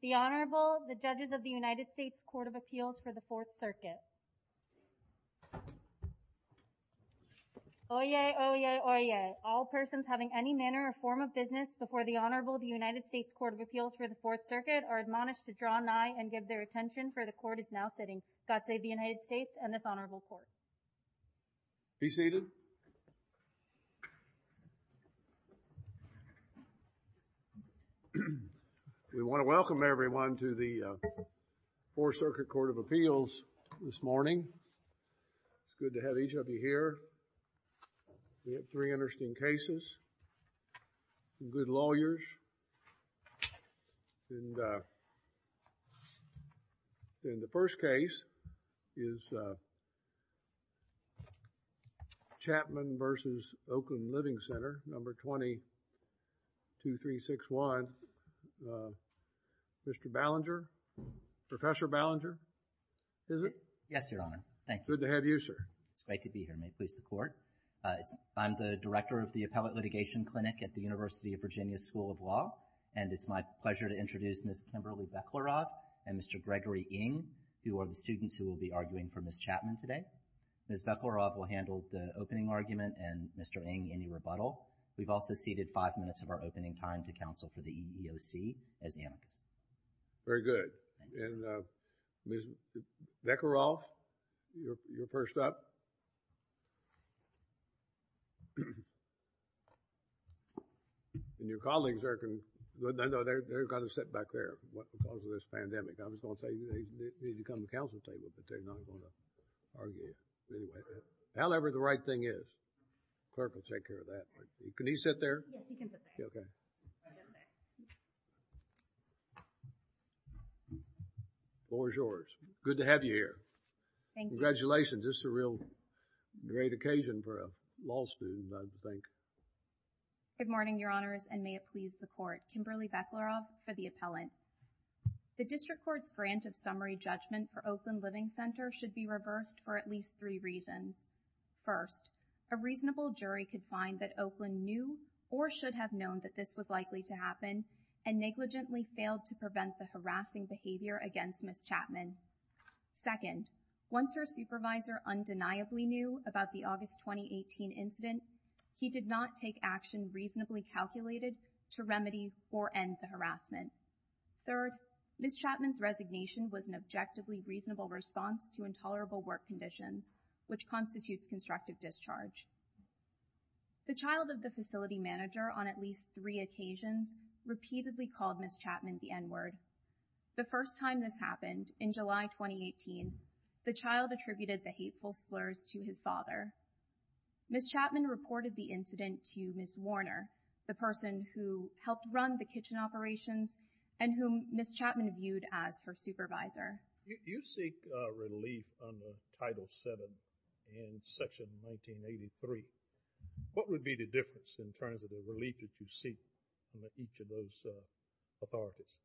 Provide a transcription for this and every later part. The Honorable, the Judges of the United States Court of Appeals for the Fourth Circuit. Oyez, oyez, oyez. All persons having any manner or form of business before the Honorable the United States Court of Appeals for the Fourth Circuit are admonished to draw nigh and give their attention for the court is now sitting. God save the United States and this Honorable Court. Be seated. We want to welcome everyone to the Fourth Circuit Court of Appeals this morning. It's good to have each of you here. We have three interesting cases. Some good lawyers and, uh, in the first case is, uh, Chapman v. Oakland Living Center, Number 20-2361. Uh, Mr. Ballinger, Professor Ballinger, is it? Yes, Your Honor. Thank you. Good to have you, sir. It's great to be here. May it please the Court. I'm the Director of the Appellate Litigation Clinic at the University of Virginia School of Law, and it's my pleasure to introduce Ms. Kimberly Bechlerov and Mr. Gregory Ng, who are the students who will be arguing for Ms. Chapman today. Ms. Bechlerov will handle the opening argument and Mr. Ng, any rebuttal. We've also ceded five minutes of our opening time to counsel for the EEOC as amicus. Very good. And, uh, Ms. Bechlerov, you're first up. And your colleagues are going to, I know they're, they're going to sit back there because of this pandemic. I was going to say they need to come to the counsel table, but they're not going to argue anyway. However the right thing is, the clerk will take care of that. Can he sit there? Yes, he can sit there. Okay. Bonjours. Good to have you here. Thank you. Congratulations. This is a real great occasion for a law student, I think. Good morning, Your Honors, and may it please the Court. Kimberly Bechlerov for the appellant. The District Court's grant of summary judgment for Oakland Living Center should be reversed for at least three reasons. First, a reasonable jury could find that Oakland knew or should have known that this was likely to happen and negligently failed to prevent the harassing behavior against Ms. Chapman. Second, once her supervisor undeniably knew about the August 2018 incident, he did not take action reasonably calculated to remedy or end the harassment. Third, Ms. Chapman's resignation was an objectively reasonable response to intolerable work conditions, which constitutes constructive discharge. The child of the facility manager on at least three occasions repeatedly called Ms. Chapman the N-word. The first time this happened, in July 2018, the child attributed the hateful slurs to his father. Ms. Chapman reported the incident to Ms. Warner, the person who helped run the kitchen operations and whom Ms. Chapman viewed as her supervisor. You seek relief under Title VII in Section 1983. What would be the difference in terms of the relief that you seek under each of those authorities?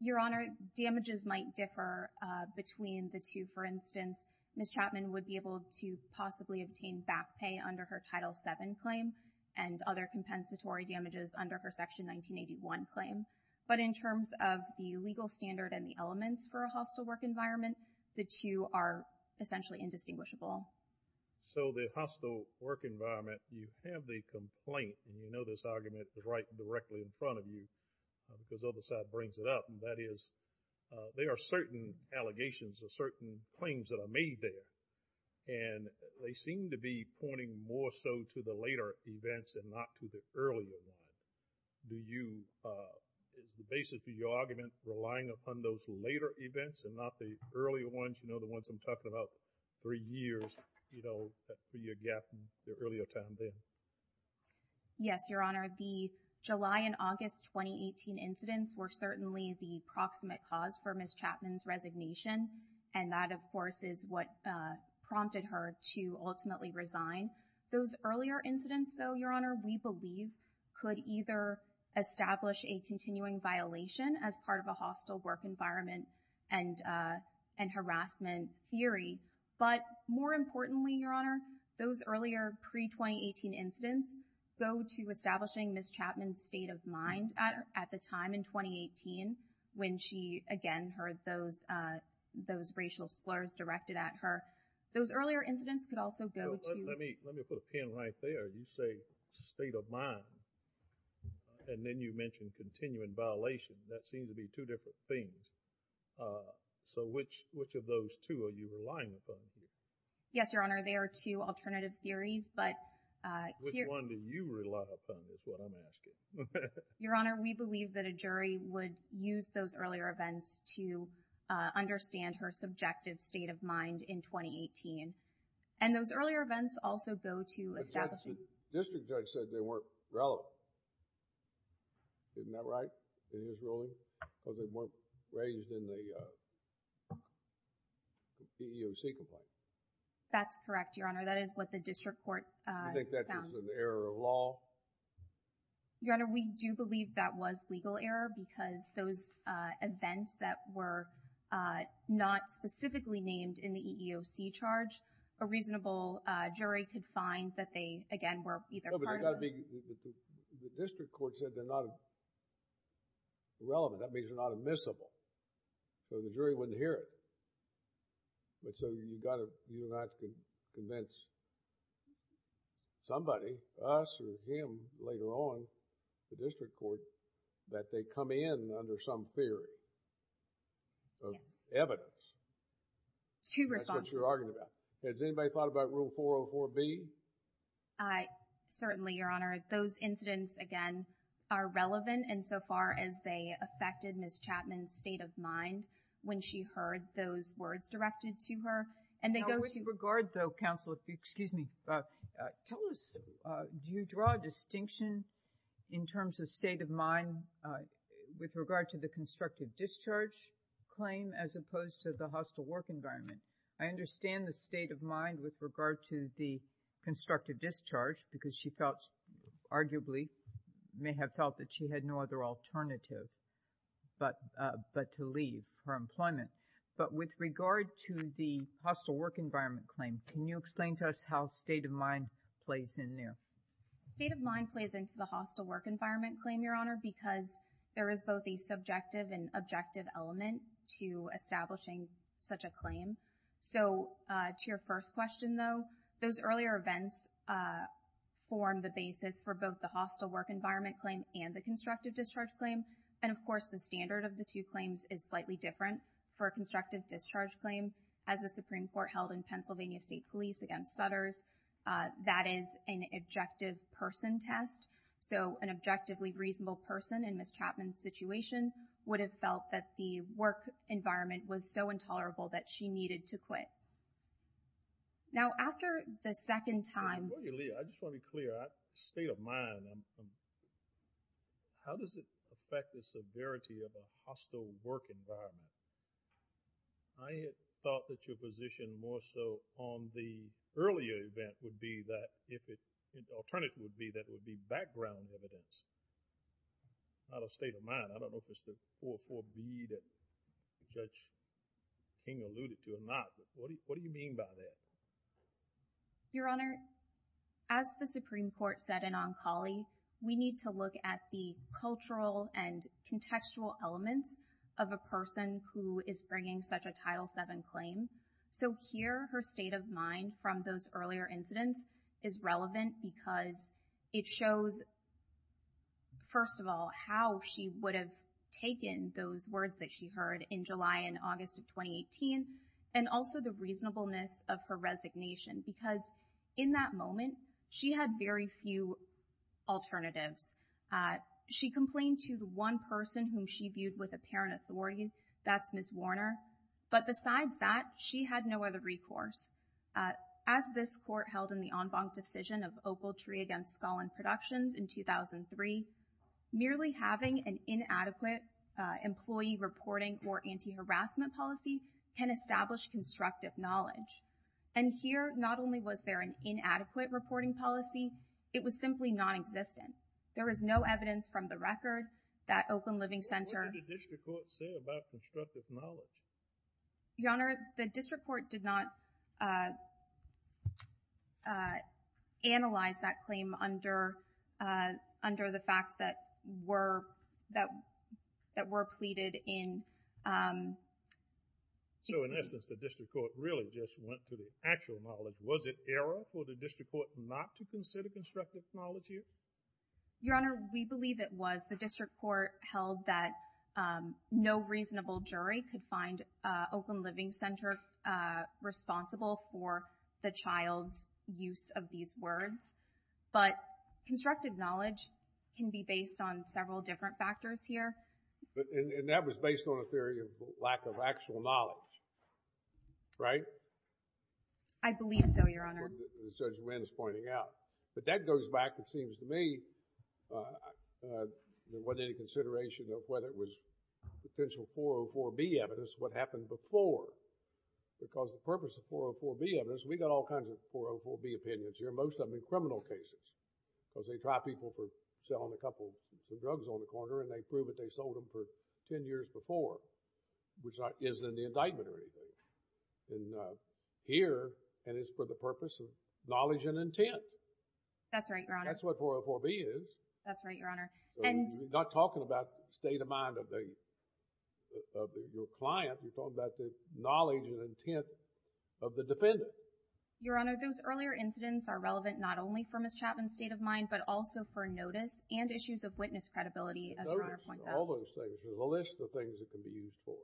Your Honor, damages might differ between the two. For instance, Ms. Chapman would be able to possibly obtain back pay under her Title VII claim and other compensatory damages under her Section 1981 claim. But in terms of the legal standard and the elements for a hostile work environment, the two are essentially indistinguishable. So the hostile work environment, you have the complaint, and you know this argument is right directly in front of you because the other side brings it up, and that is there are certain allegations or certain claims that are made there, and they seem to be pointing more so to the later events and not to the earlier ones. Do you, basically, your argument is relying upon those later events and not the earlier ones, you know, the ones I'm talking about, three years, you know, three-year gap in the earlier time then? Yes, Your Honor. The July and August 2018 incidents were certainly the proximate cause for Ms. Chapman's resignation, and that, of course, is what prompted her to ultimately resign. Those earlier incidents, though, Your Honor, we believe could either establish a continuing violation as part of a hostile work environment and harassment theory. But more importantly, Your Honor, those earlier pre-2018 incidents go to establishing Ms. Chapman's state of mind at the time in 2018 when she, again, heard those racial slurs directed at her. Those earlier incidents could also go to— Let me put a pin right there. You say state of mind, and then you mentioned continuing violation. That seems to be two different things. So which of those two are you relying upon here? Yes, Your Honor. They are two alternative theories, but— Which one do you rely upon is what I'm asking. Your Honor, we believe that a jury would use those earlier events to understand her subjective state of mind in 2018, and those earlier events also go to establishing— I said the district judge said they weren't relevant. Isn't that right? Is this really? Because they weren't raised in the PEO Secretary. That's correct, Your Honor. That is what the district court found. I think that was an error of law. Your Honor, we do believe that was legal error because those events that were not specifically named in the EEOC charge, a reasonable jury could find that they, again, were either part of— No, but the district court said they're not relevant. That means they're not admissible. So the jury wouldn't hear it. And so you got to, you're not going to convince somebody, us or him later on, the district court, that they come in under some theory of evidence. Two responses. That's what you're arguing about. Has anybody thought about Rule 404B? I—certainly, Your Honor. Those incidents, again, are relevant insofar as they affected Ms. Chapman's state of mind when she heard those words directed to her, and they go to— How would you regard, though, counsel, if you—excuse me. Tell us, do you draw a distinction in terms of state of mind with regard to the constructive discharge claim as opposed to the hostile work environment? I understand the state of mind with regard to the constructive discharge because she felt, arguably, may have felt that she had no other alternative but to leave her employment. But with regard to the hostile work environment claim, can you explain to us how state of mind plays in there? State of mind plays into the hostile work environment claim, Your Honor, because there is both a subjective and objective element to establishing such a claim. So, to your first question, though, those earlier events form the basis for both the hostile work environment claim and the constructive discharge claim. And, of course, the standard of the two claims is slightly different. For a constructive discharge claim, as the Supreme Court held in Pennsylvania State Police against Sutters, that is an objective person test. So, an objectively reasonable person in Ms. Chapman's situation would have felt that the work environment was so intolerable that she needed to quit. Now, after the second time— I just want to be clear. State of mind. How does it affect the severity of a hostile work environment? I had thought that your position more so on the earlier event would be that if it—alternative would be that it would be background evidence, not a state of mind. I don't know if it's the 4-4B that Judge King alluded to or not, but what do you mean by that? Your Honor, as the Supreme Court said in Oncology, we need to look at the cultural and contextual elements of a person who is bringing such a Title VII claim. So, here, her state of mind from those earlier incidents is relevant because it shows, first of all, how she would have taken those words that she heard in July and August of 2018, and also the reasonableness of her resignation. Because in that moment, she had very few alternatives. She complained to the person whom she viewed with apparent authority—that's Ms. Warner—but besides that, she had no other recourse. As this Court held in the en banc decision of Opal Tree against Scullin Productions in 2003, merely having an inadequate employee reporting or anti-harassment policy can establish constructive knowledge. And here, not only was there an inadequate reporting policy, it was simply nonexistent. There is no evidence from the record that Oakland Living Center— What did the district court say about constructive knowledge? Your Honor, the district court did not analyze that claim under the facts that were pleaded in. So, in essence, the district court really just went to the actual knowledge. Was it not to consider constructive knowledge here? Your Honor, we believe it was. The district court held that no reasonable jury could find Oakland Living Center responsible for the child's use of these words. But constructive knowledge can be based on several different factors here. And that was based on a theory of lack of actual knowledge, right? I believe so, Your Honor. As Judge Wynn is pointing out. But that goes back, it seems to me, there wasn't any consideration of whether it was potential 404B evidence, what happened before. Because the purpose of 404B evidence, we got all kinds of 404B opinions here, most of them in criminal cases. Because they try people for selling a couple of drugs on the corner and they prove that they sold them for 10 years before, which isn't an indictment or anything. And here, and it's for the purpose of knowledge and intent. That's right, Your Honor. That's what 404B is. That's right, Your Honor. We're not talking about state of mind of the client. We're talking about the knowledge and intent of the defendant. Your Honor, those earlier incidents are relevant not only for Ms. Chapman's state of mind, but also for notice and issues of witness credibility, as Your Honor points out. Notice, all those things. There's a list of things that can be used for.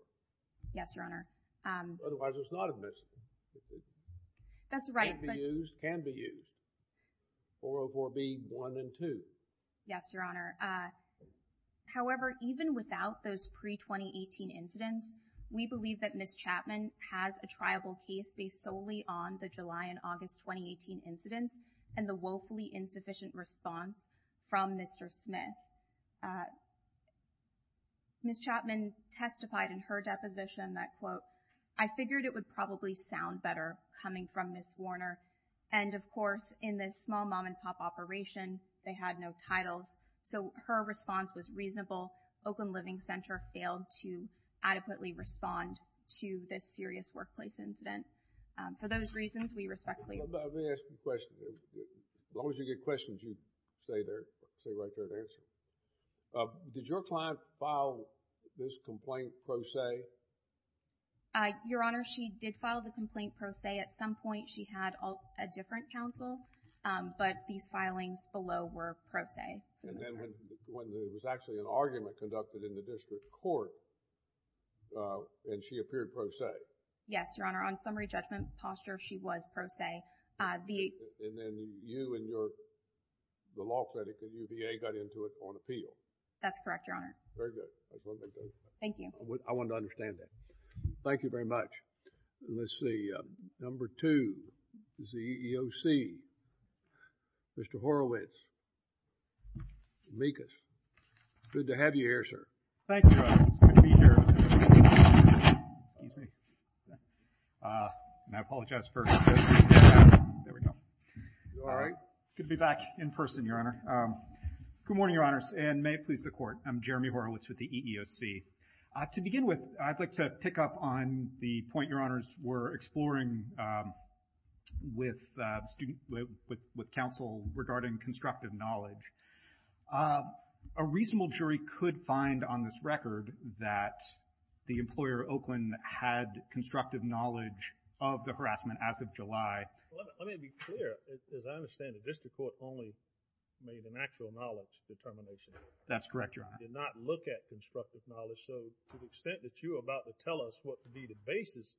Yes, Your Honor. Otherwise, it's not a missing. That's right. It can be used. 404B, one and two. Yes, Your Honor. However, even without those pre-2018 incidents, we believe that Ms. Chapman has a triable case based solely on the July and August 2018 incidents and the woefully insufficient response from Mr. Smith. Ms. Chapman testified in her deposition that, quote, I figured it would probably sound better coming from Ms. Warner. And, of course, in this small mom-and-pop operation, they had no titles. So, her response was reasonable. Oakland Living Center failed to adequately respond to this serious workplace incident. For those reasons, we respectfully— Let me ask you a question. As long as you get questions, you stay there. Stay right there and answer. Did your client file this complaint pro se? Your Honor, she did file the complaint pro se. At some point, she had a different counsel, but these filings below were pro se. And then when there was actually an argument conducted in the district court, and she appeared pro se? Yes, Your Honor. On summary judgment posture, she was pro se. And then you and the law critic, the UVA, got into it on appeal? That's correct, Your Honor. Very good. Thank you. I wanted to understand that. Thank you very much. Let's see. Number two is the EEOC. Mr. Horowitz. Mikas. Good to have you here, sir. Thank you, Your Honor. It's good to be here. Excuse me. And I apologize for... There we go. You all right? It's good to be back in person, Your Honor. Good morning, Your Honors, and may it please the Court. I'm Jeremy Horowitz with the EEOC. To begin with, I'd like to pick up on the point Your Honors were exploring with counsel regarding constructive knowledge. Um, a reasonable jury could find on this record that the employer, Oakland, had constructive knowledge of the harassment as of July. Let me be clear. As I understand it, the district court only made an actual knowledge determination. That's correct, Your Honor. They did not look at constructive knowledge. So to the extent that you're about to tell us what could be the basis,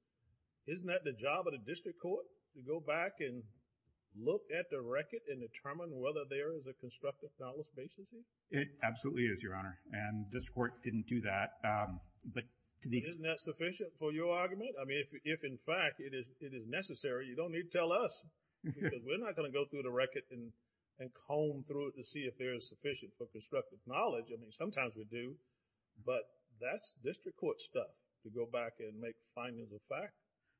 isn't that the job of the district court to go back and look at the record and determine whether there is a constructive knowledge basis? It absolutely is, Your Honor, and district court didn't do that. But isn't that sufficient for your argument? I mean, if, in fact, it is necessary, you don't need to tell us because we're not going to go through the record and comb through it to see if there is sufficient for constructive knowledge. I mean, sometimes we do, but that's district court stuff to go back and make findings of fact.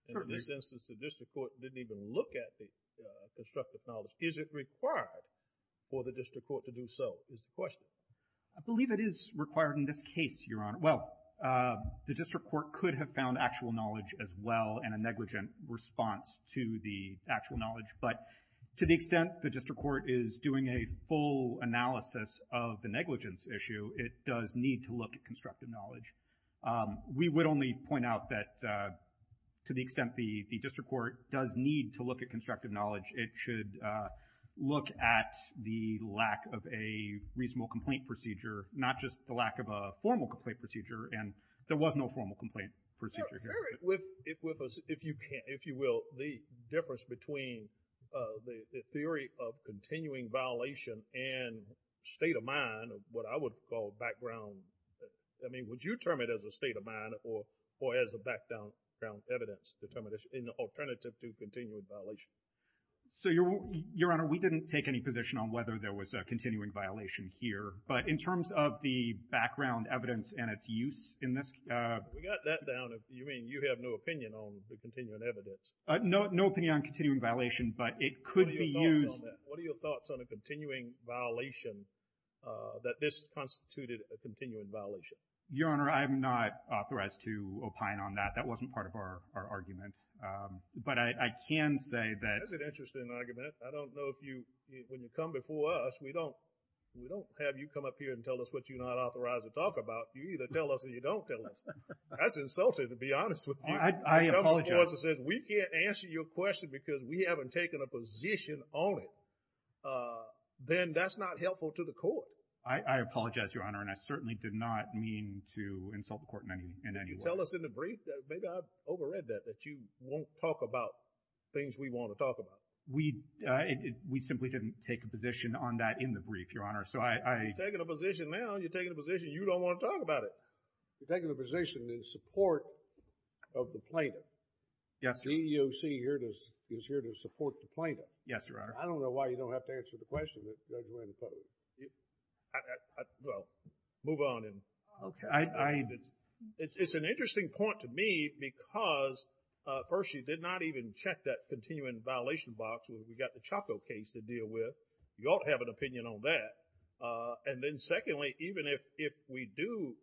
In this instance, the district court didn't even look at the constructive knowledge. Is it required for the district court to do so is the question? I believe it is required in this case, Your Honor. Well, the district court could have found actual knowledge as well and a negligent response to the actual knowledge. But to the extent the district court is doing a full analysis of the negligence issue, it does need to look at constructive knowledge. We would only point out that to the extent the district court does need to look at constructive knowledge, it should look at the lack of a reasonable complaint procedure, not just the lack of a formal complaint procedure. And there was no formal complaint procedure here. Eric, with us, if you can, if you will, the difference between the theory of continuing violation and state of mind, what I would call background. I mean, would you term it as a state of mind or as a background evidence determination in the alternative to continuing violation? So, Your Honor, we didn't take any position on whether there was a continuing violation here. But in terms of the background evidence and its use in this. We got that down. You mean you have no opinion on the continuing evidence? No, no opinion on continuing violation, but it could be used. What are your thoughts on a continuing violation that this constituted a continuing violation? Your Honor, I'm not authorized to opine on that. That wasn't part of our argument. But I can say that. That's an interesting argument. I don't know if you, when you come before us, we don't have you come up here and tell us what you're not authorized to talk about. You either tell us or you don't tell us. That's insulting, to be honest with you. I apologize. We can't answer your question because we haven't taken a position on it. Then that's not helpful to the court. I apologize, Your Honor. And I certainly did not mean to insult the court in any way. You tell us in the brief that maybe I've overread that, that you won't talk about things we want to talk about. We simply didn't take a position on that in the brief, Your Honor. You're taking a position now. You're taking a position. You don't want to talk about it. You're taking a position in support of the plaintiff. Yes, Your Honor. The EEOC is here to support the plaintiff. Yes, Your Honor. I don't know why you don't have to answer the question that Judge Randy Cuddery. Well, move on. It's an interesting point to me because, first, you did not even check that continuing violation box where we got the Chaco case to deal with. You ought to have an opinion on that. And then secondly, even if we do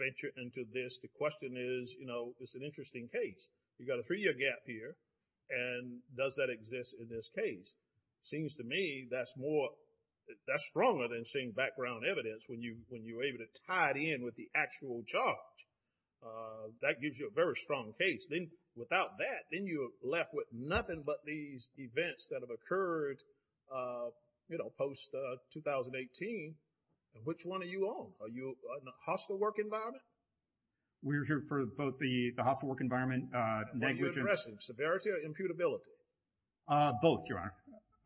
venture into this, the question is, you know, it's an interesting case. You got a three-year gap here. And does that exist in this case? Seems to me that's more, that's stronger than seeing background evidence when you're able to tie it in with the actual charge. That gives you a very strong case. Then without that, then you're left with nothing but these events that have occurred, you know, post-2018. And which one are you on? Are you in a hostile work environment? We're here for both the hostile work environment, negligence— What are you addressing? Severity or imputability? Both, Your Honor.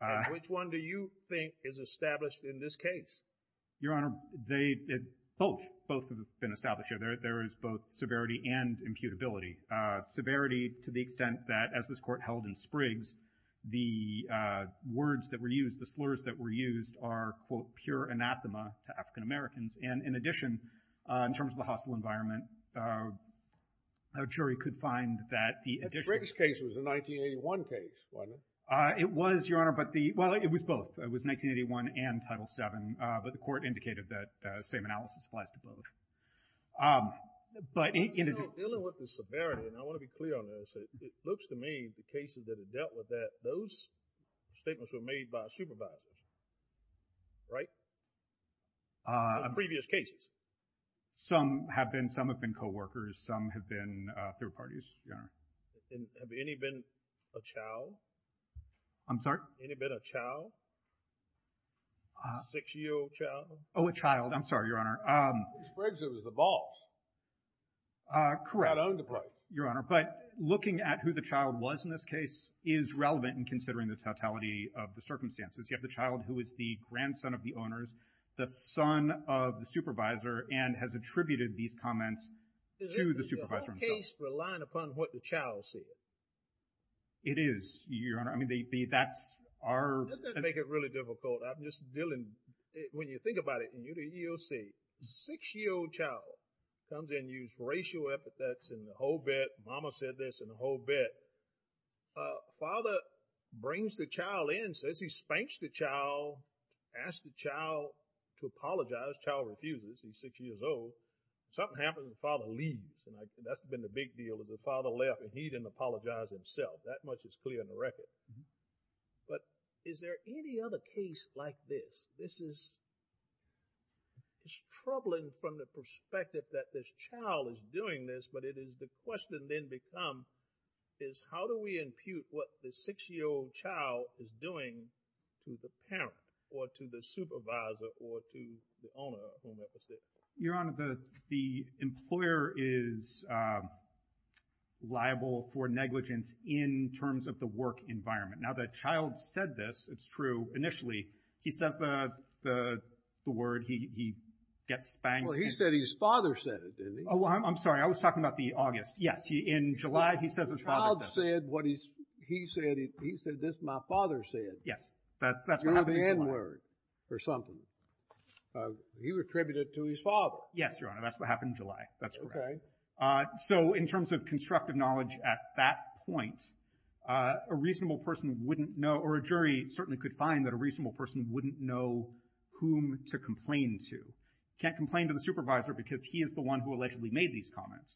And which one do you think is established in this case? Your Honor, both. Both have been established here. There is both severity and imputability. Severity to the extent that, as this Court held in Spriggs, the words that were used, the slurs that were used, are, quote, pure anathema to African-Americans. And in addition, in terms of the hostile environment, a jury could find that the addition— The Spriggs case was a 1981 case, wasn't it? It was, Your Honor, but the— Well, it was both. It was 1981 and Title VII, but the Court indicated that same analysis applies to both. Um, but in— You know, dealing with the severity, and I want to be clear on this, it looks to me the cases that have dealt with that, those statements were made by a supervisor, right? Uh— In previous cases. Some have been, some have been co-workers. Some have been third parties, Your Honor. And have any been a child? I'm sorry? Any been a child? Six-year-old child? Oh, a child. I'm sorry, Your Honor. Spriggs was the boss. Uh, correct. Not owned the place. Your Honor, but looking at who the child was in this case is relevant in considering the totality of the circumstances. You have the child who is the grandson of the owners, the son of the supervisor, and has attributed these comments to the supervisor himself. Is the whole case relying upon what the child said? It is, Your Honor. I mean, that's our— Doesn't that make it really difficult? I'm just dealing— When you think about it in the EEOC, six-year-old child comes in, used racial epithets and the whole bit. Mama said this and the whole bit. Uh, father brings the child in, says he spanked the child, asked the child to apologize. Child refuses. He's six years old. Something happens, the father leaves, and that's been the big deal. The father left, and he didn't apologize himself. That much is clear in the record. But is there any other case like this? This is troubling from the perspective that this child is doing this, but it is the question then become, is how do we impute what the six-year-old child is doing to the parent or to the supervisor or to the owner of whom that was said? Your Honor, the employer is liable for negligence in terms of the work environment. Now, the child said this. It's true. Initially, he says the word. He gets spanked. Well, he said his father said it, didn't he? Oh, I'm sorry. I was talking about the August. Yes. In July, he says his father said it. The child said what he said. He said, this my father said. Yes. That's what happened in July. You're the n-word or something. He attributed it to his father. Yes, Your Honor. That's what happened in July. That's correct. OK. So in terms of constructive knowledge at that point, a reasonable person wouldn't know, or a jury certainly could find that a reasonable person wouldn't know whom to complain to. Can't complain to the supervisor because he is the one who allegedly made these comments.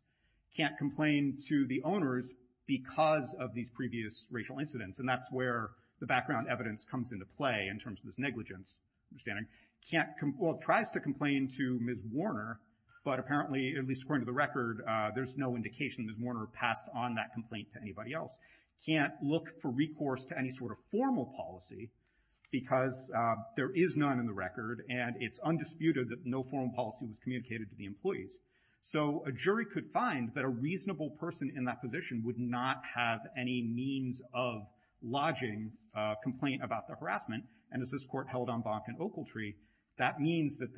Can't complain to the owners because of these previous racial incidents. And that's where the background evidence comes into play in terms of this negligence. Well, tries to complain to Ms. Warner, but apparently, at least according to the record, there's no indication Ms. Warner passed on that complaint to anybody else. Can't look for recourse to any sort of formal policy because there is none in the record. And it's undisputed that no formal policy was communicated to the employees. So a jury could find that a reasonable person in that position would not have any means of lodging a complaint about the harassment. And as this court held on Bonk and Oakletree, that means that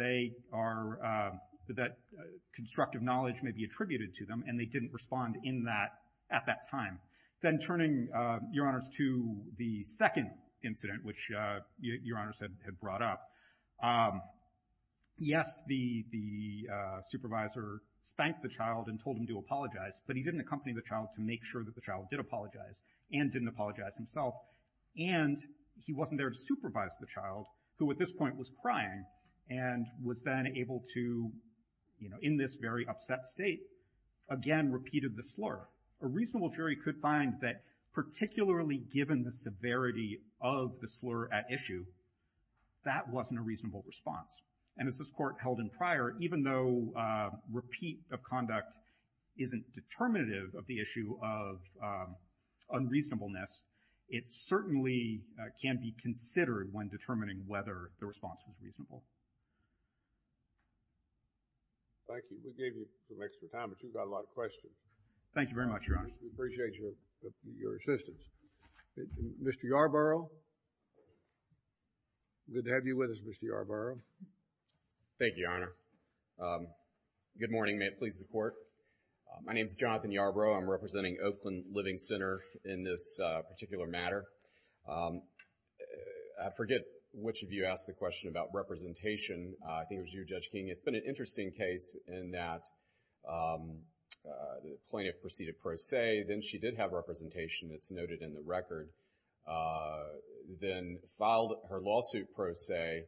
constructive knowledge may be attributed to them. And they didn't respond in that at that time. Then turning, Your Honors, to the second incident, which Your Honors had brought up, yes, the supervisor thanked the child and told him to apologize. But he didn't accompany the child to make sure that the child did apologize and didn't apologize himself. And he wasn't there to supervise the child, who at this point was crying and was then able to, in this very upset state, again repeated the slur. A reasonable jury could find that particularly given the severity of the slur at issue, that wasn't a reasonable response. And as this court held in prior, even though repeat of conduct isn't determinative of the issue of unreasonableness, it certainly can be considered when determining whether the response was reasonable. Thank you. We gave you some extra time, but you've got a lot of questions. Thank you very much, Your Honor. We appreciate your assistance. Mr. Yarbrough, good to have you with us, Mr. Yarbrough. Thank you, Your Honor. Good morning, may it please the court. My name's Jonathan Yarbrough. I'm representing Oakland Living Center in this particular matter. I forget which of you asked the question about representation. I think it was you, Judge King. It's been an interesting case in that the plaintiff proceeded pro se, then she did have representation that's noted in the record, then filed her lawsuit pro se,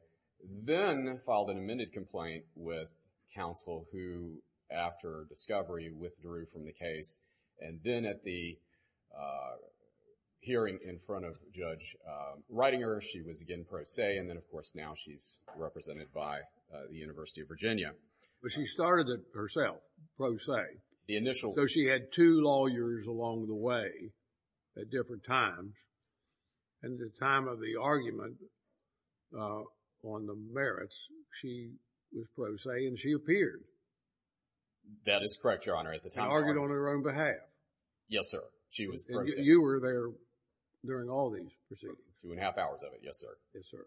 then filed an amended complaint with counsel who, after discovery, withdrew from the case. And then at the hearing in front of Judge Reitinger, she was again pro se. And then, of course, now she's represented by the University of Virginia. But she started it herself, pro se. The initial. So she had two lawyers along the way at different times. And at the time of the argument on the merits, she was pro se and she appeared. That is correct, Your Honor, at the time. She argued on her own behalf. Yes, sir. She was pro se. You were there during all these proceedings. Two and a half hours of it, yes, sir. Yes, sir.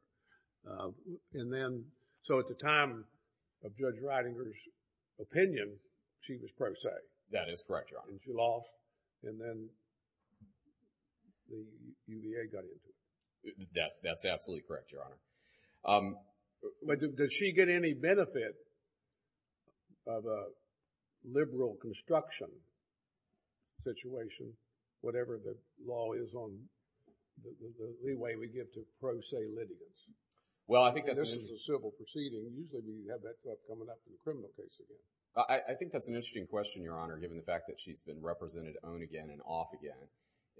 And then, so at the time of Judge Reitinger's opinion, she was pro se. That is correct, Your Honor. And she lost. And then the UVA got into it. That's absolutely correct, Your Honor. Does she get any benefit of a liberal construction situation, whatever the law is on the way we get to pro se litigants? Well, I think that's. This is a civil proceeding. Usually we have that coming up in criminal cases. I think that's an interesting question, Your Honor, given the fact that she's been represented on again and off again.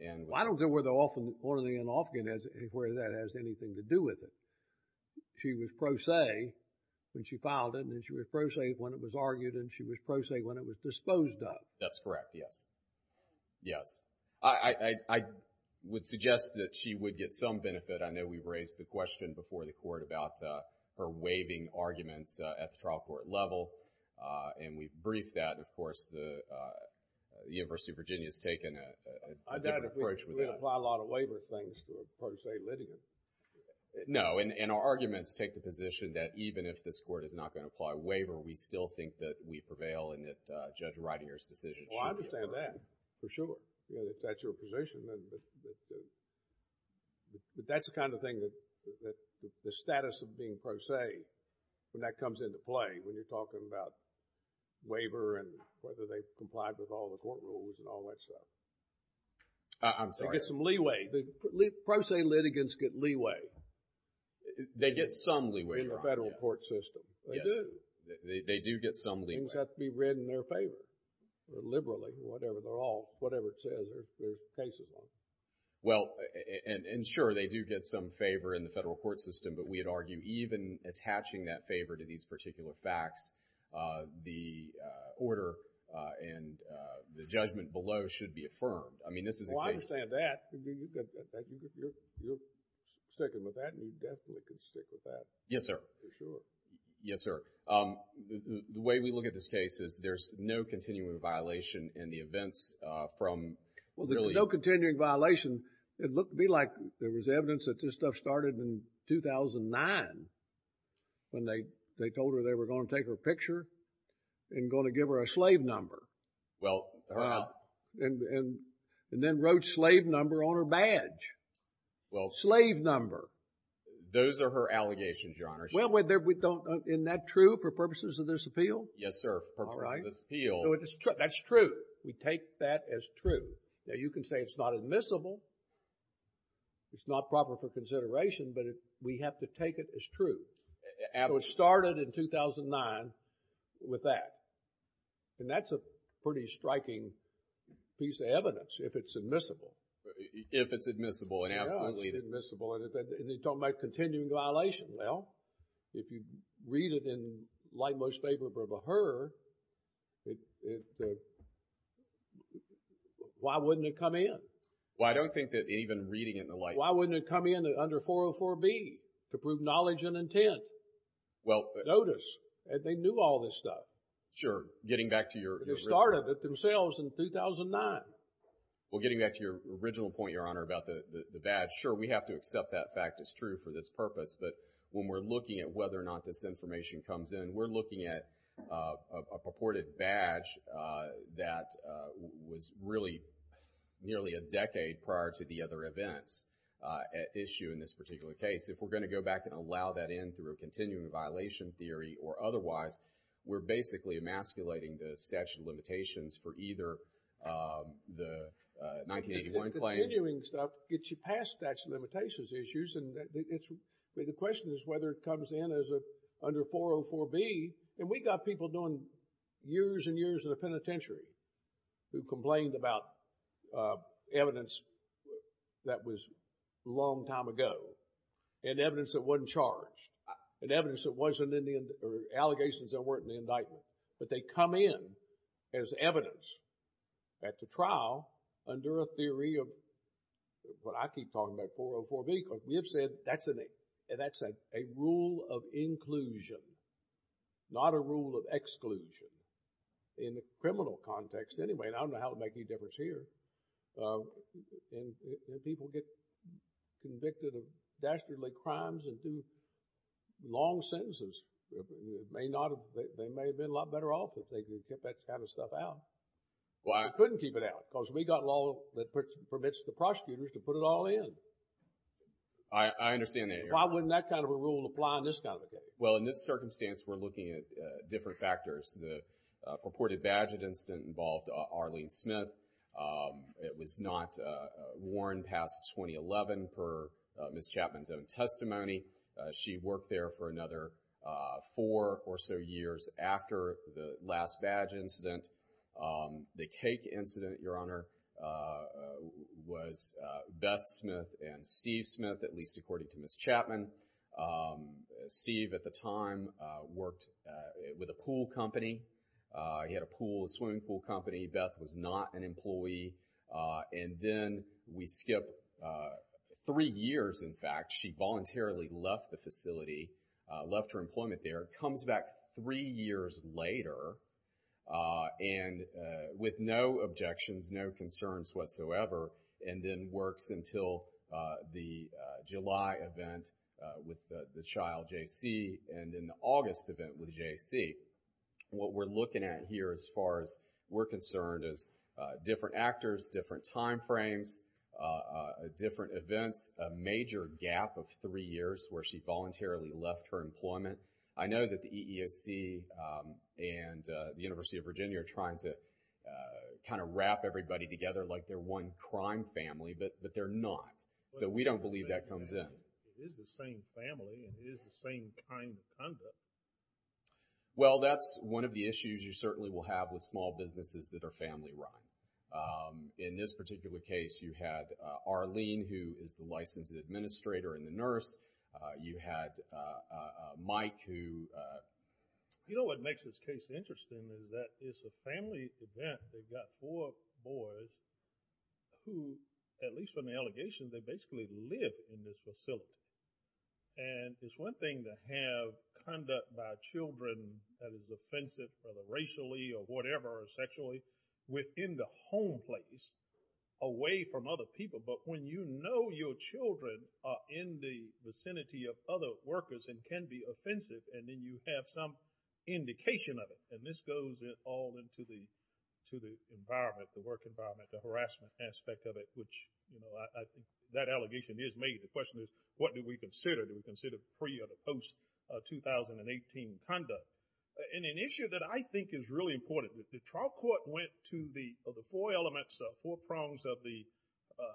And. I don't know where the off and on and off again is and where that has anything to do with it. She was pro se when she filed it and then she was pro se when it was argued and she was pro se when it was disposed of. That's correct, yes. Yes. I would suggest that she would get some benefit. I know we've raised the question before the court about her waiving arguments at the trial court level. And we've briefed that. Of course, the University of Virginia has taken a different approach with that. I doubt if we apply a lot of waiver things to a pro se litigant. No. And our arguments take the position that even if this court is not going to apply a waiver, we still think that we prevail and that Judge Ridinger's decision should. Well, I understand that for sure. If that's your position. But that's the kind of thing that the status of being pro se when that comes into play, when you're talking about waiver and whether they've complied with all the court rules and all that stuff. I'm sorry. They get some leeway. Pro se litigants get leeway. They get some leeway. In the federal court system. They do. They do get some leeway. Things have to be read in their favor, liberally, whatever. Whatever it says. There's cases like that. Well, and sure, they do get some favor in the federal court system. But we would argue even attaching that favor to these particular facts, the order and the judgment below should be affirmed. I mean, this is a case. Well, I understand that. You're sticking with that. And you definitely can stick with that. Yes, sir. For sure. Yes, sir. The way we look at this case is there's no continuing violation in the events from really... Well, there's no continuing violation. It looked to me like there was evidence that this stuff started in 2009 when they told her they were going to take her picture and going to give her a slave number. Well... And then wrote slave number on her badge. Well... Slave number. Those are her allegations, Your Honor. Well, we don't... Isn't that true for purposes of this appeal? Yes, sir. For purposes of this appeal. That's true. We take that as true. Now, you can say it's not admissible. It's not proper for consideration, but we have to take it as true. Absolutely. So it started in 2009 with that. And that's a pretty striking piece of evidence if it's admissible. If it's admissible, absolutely. Yeah, if it's admissible. And you're talking about continuing violation. Well, if you read it in light most favorable of her, then why wouldn't it come in? Well, I don't think that even reading it in the light... Why wouldn't it come in under 404B to prove knowledge and intent? Well... Notice. And they knew all this stuff. Sure. Getting back to your... They started it themselves in 2009. Well, getting back to your original point, Your Honor, about the badge. Sure, we have to accept that fact. It's true for this purpose. But when we're looking at whether or not this information comes in, we're looking at a purported badge that was really nearly a decade prior to the other events at issue in this particular case. If we're going to go back and allow that in through a continuing violation theory or otherwise, we're basically emasculating the statute of limitations for either the 1981 claim... The continuing stuff gets you past statute of limitations issues. And the question is whether it comes in under 404B. And we got people doing years and years in the penitentiary who complained about evidence that was a long time ago and evidence that wasn't charged and evidence that wasn't in the... Allegations that weren't in the indictment. But they come in as evidence at the trial under a theory of what I keep talking about, 404B. Because we have said that's a rule of inclusion, not a rule of exclusion in the criminal context anyway. And I don't know how it would make any difference here. And people get convicted of dastardly crimes and do long sentences. They may have been a lot better off if they could get that kind of stuff out. They couldn't keep it out because we got law that permits the prosecutors to put it all in. I understand that, Your Honor. Why wouldn't that kind of a rule apply on this kind of a case? Well, in this circumstance, we're looking at different factors. The purported badge incident involved Arlene Smith. It was not worn past 2011 per Ms. Chapman's own testimony. She worked there for another four or so years after the last badge incident. The cake incident, Your Honor, was Beth Smith and Steve Smith, at least according to Ms. Chapman. Steve at the time worked with a pool company. He had a pool, a swimming pool company. Beth was not an employee. And then we skip three years, in fact. She voluntarily left the facility, left her employment there. It comes back three years later and with no objections, no concerns whatsoever, and then works until the July event with the child, J.C., and then the August event with J.C. What we're looking at here, as far as we're concerned, is different actors, different time frames, different events, a major gap of three years where she voluntarily left her employment. I know that the EEOC and the University of Virginia are trying to kind of wrap everybody together like they're one crime family, but they're not. So we don't believe that comes in. It is the same family and it is the same kind of conduct. Well, that's one of the issues you certainly will have with small businesses that are family-run. In this particular case, you had Arlene, who is the licensed administrator and the nurse. You had Mike, who... You know what makes this case interesting is that it's a family event. They've got four boys who, at least from the allegations, they basically live in this facility. And it's one thing to have conduct by children that is offensive, whether racially or whatever, or sexually, within the home place, away from other people. But when you know your children are in the vicinity of other workers and can be offensive, and then you have some indication of it, and this goes all into the environment, the work environment, the harassment aspect of it, which that allegation is made. The question is, what do we consider? Do we consider pre- or post-2018 conduct? And an issue that I think is really important, the trial court went to the four elements, four prongs of the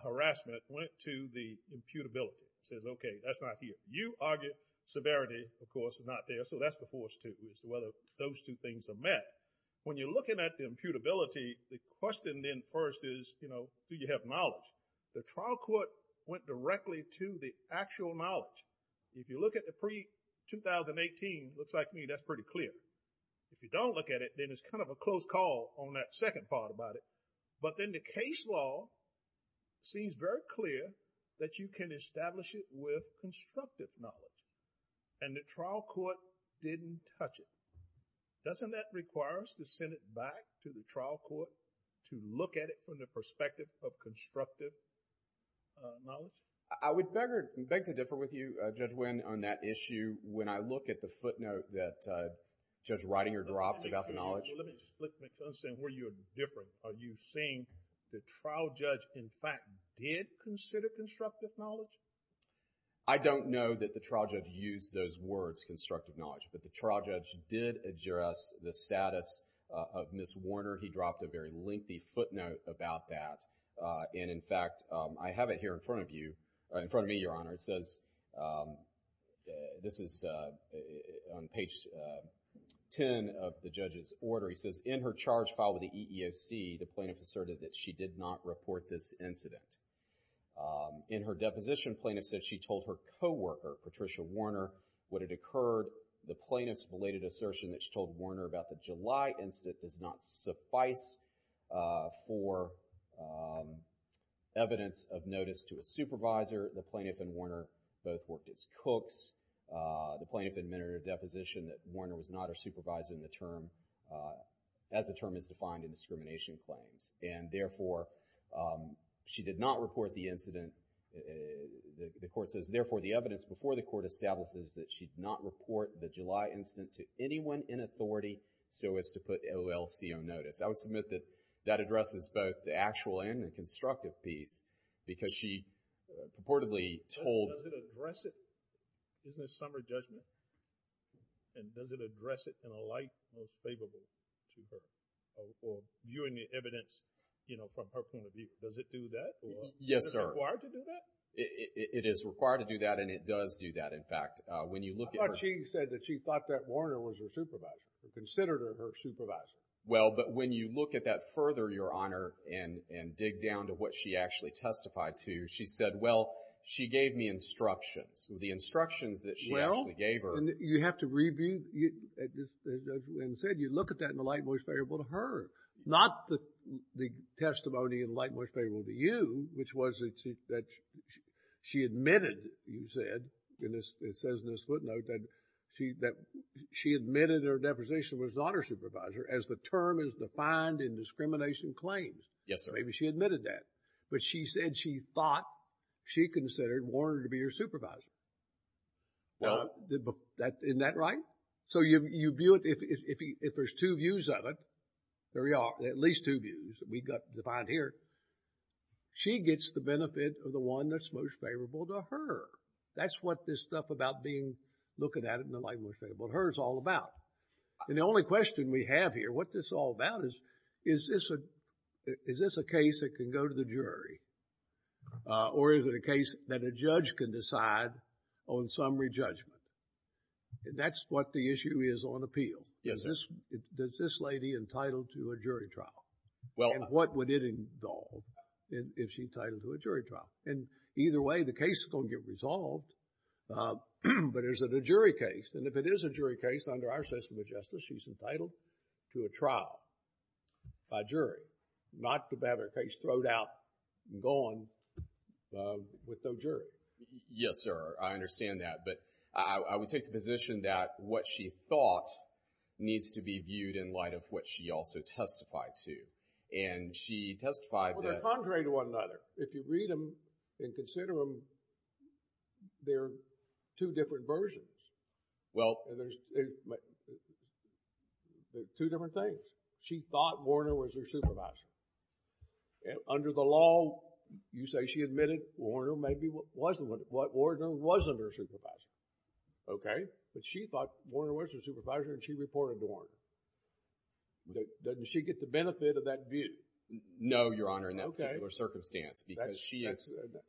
harassment, went to the imputability. Said, okay, that's not here. You argue severity, of course, is not there. So that's the force, too, is whether those two things are met. When you're looking at the imputability, the question then first is, do you have knowledge? The trial court went directly to the actual knowledge. If you look at the pre-2018, looks like me, that's pretty clear. If you don't look at it, then it's kind of a close call on that second part about it. But then the case law seems very clear that you can establish it with constructive knowledge. And the trial court didn't touch it. Doesn't that require us to send it back to the trial court to look at it from the perspective of constructive knowledge? I would beg to differ with you, Judge Wynn, on that issue when I look at the footnote that Judge Reitinger dropped about the knowledge. Well, let me just flip the question where you're different. Are you saying the trial judge, in fact, did consider constructive knowledge? I don't know that the trial judge used those words, constructive knowledge, but the trial judge did address the status of Ms. Warner. He dropped a very lengthy footnote about that. And in fact, I have it here in front of you, in front of me, Your Honor. It says, this is on page 10 of the judge's order. He says, in her charge filed with the EEOC, the plaintiff asserted that she did not report this incident. In her deposition, plaintiff said she told her co-worker, Patricia Warner, what had occurred. The plaintiff's related assertion that she told Warner about the July incident does not suffice for evidence of notice to a supervisor. The plaintiff and Warner both worked as cooks. The plaintiff admitted in her deposition that Warner was not her supervisor in the term, as the term is defined in discrimination claims. And therefore, she did not report the incident. The court says, therefore, the evidence before the court establishes that she did not report the July incident to anyone in authority so as to put OLC on notice. I would submit that that addresses both the actual and the constructive piece, because she purportedly told— Does it address it in a summer judgment? And does it address it in a light most favorable to her? Or viewing the evidence, you know, from her point of view, does it do that? Yes, sir. Is it required to do that? It is required to do that, and it does do that. When you look at— But she said that she thought that Warner was her supervisor, considered her her supervisor. Well, but when you look at that further, Your Honor, and dig down to what she actually testified to, she said, well, she gave me instructions. The instructions that she actually gave her— You have to review and said you look at that in a light most favorable to her, not the testimony in a light most favorable to you, which was that she admitted, you said, and it says in this footnote that she admitted her deposition was not her supervisor, as the term is defined in discrimination claims. Yes, sir. Maybe she admitted that. But she said she thought she considered Warner to be her supervisor. Isn't that right? So you view it, if there's two views of it, there we are, at least two views, we've got defined here. She gets the benefit of the one that's most favorable to her. That's what this stuff about being, looking at it in a light most favorable to her is all about. And the only question we have here, what this is all about is, is this a case that can go to the jury? Or is it a case that a judge can decide on summary judgment? That's what the issue is on appeal. Yes, sir. Does this lady entitled to a jury trial? Well— And what would it involve if she's entitled to a jury trial? And either way, the case is going to get resolved. But is it a jury case? And if it is a jury case, under our system of justice, she's entitled to a trial by jury. Not to have her case thrown out and gone with no jury. Yes, sir. I understand that. But I would take the position that what she thought needs to be viewed in light of what she also testified to. And she testified that— Well, they're contrary to one another. If you read them and consider them, they're two different versions. Well— And there's two different things. She thought Warner was her supervisor. Under the law, you say she admitted Warner maybe wasn't— that Warner wasn't her supervisor. Okay. But she thought Warner was her supervisor and she reported to Warner. Doesn't she get the benefit of that view? No, Your Honor, in that particular circumstance.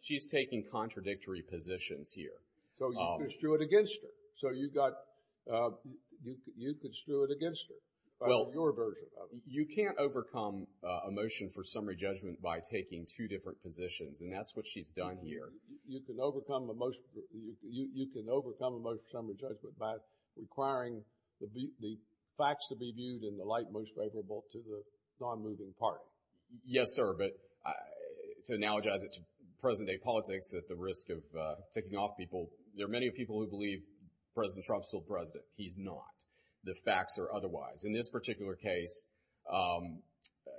She's taking contradictory positions here. So you can stew it against her. So you've got— you can stew it against her. Well— By your version of it. You can't overcome a motion for summary judgment by taking two different positions. And that's what she's done here. You can overcome a motion for summary judgment by requiring the facts to be viewed in the light most favorable to the non-moving part. Yes, sir. But to analogize it to present-day politics at the risk of ticking off people, there are many people who believe President Trump's still president. He's not. The facts are otherwise. In this particular case,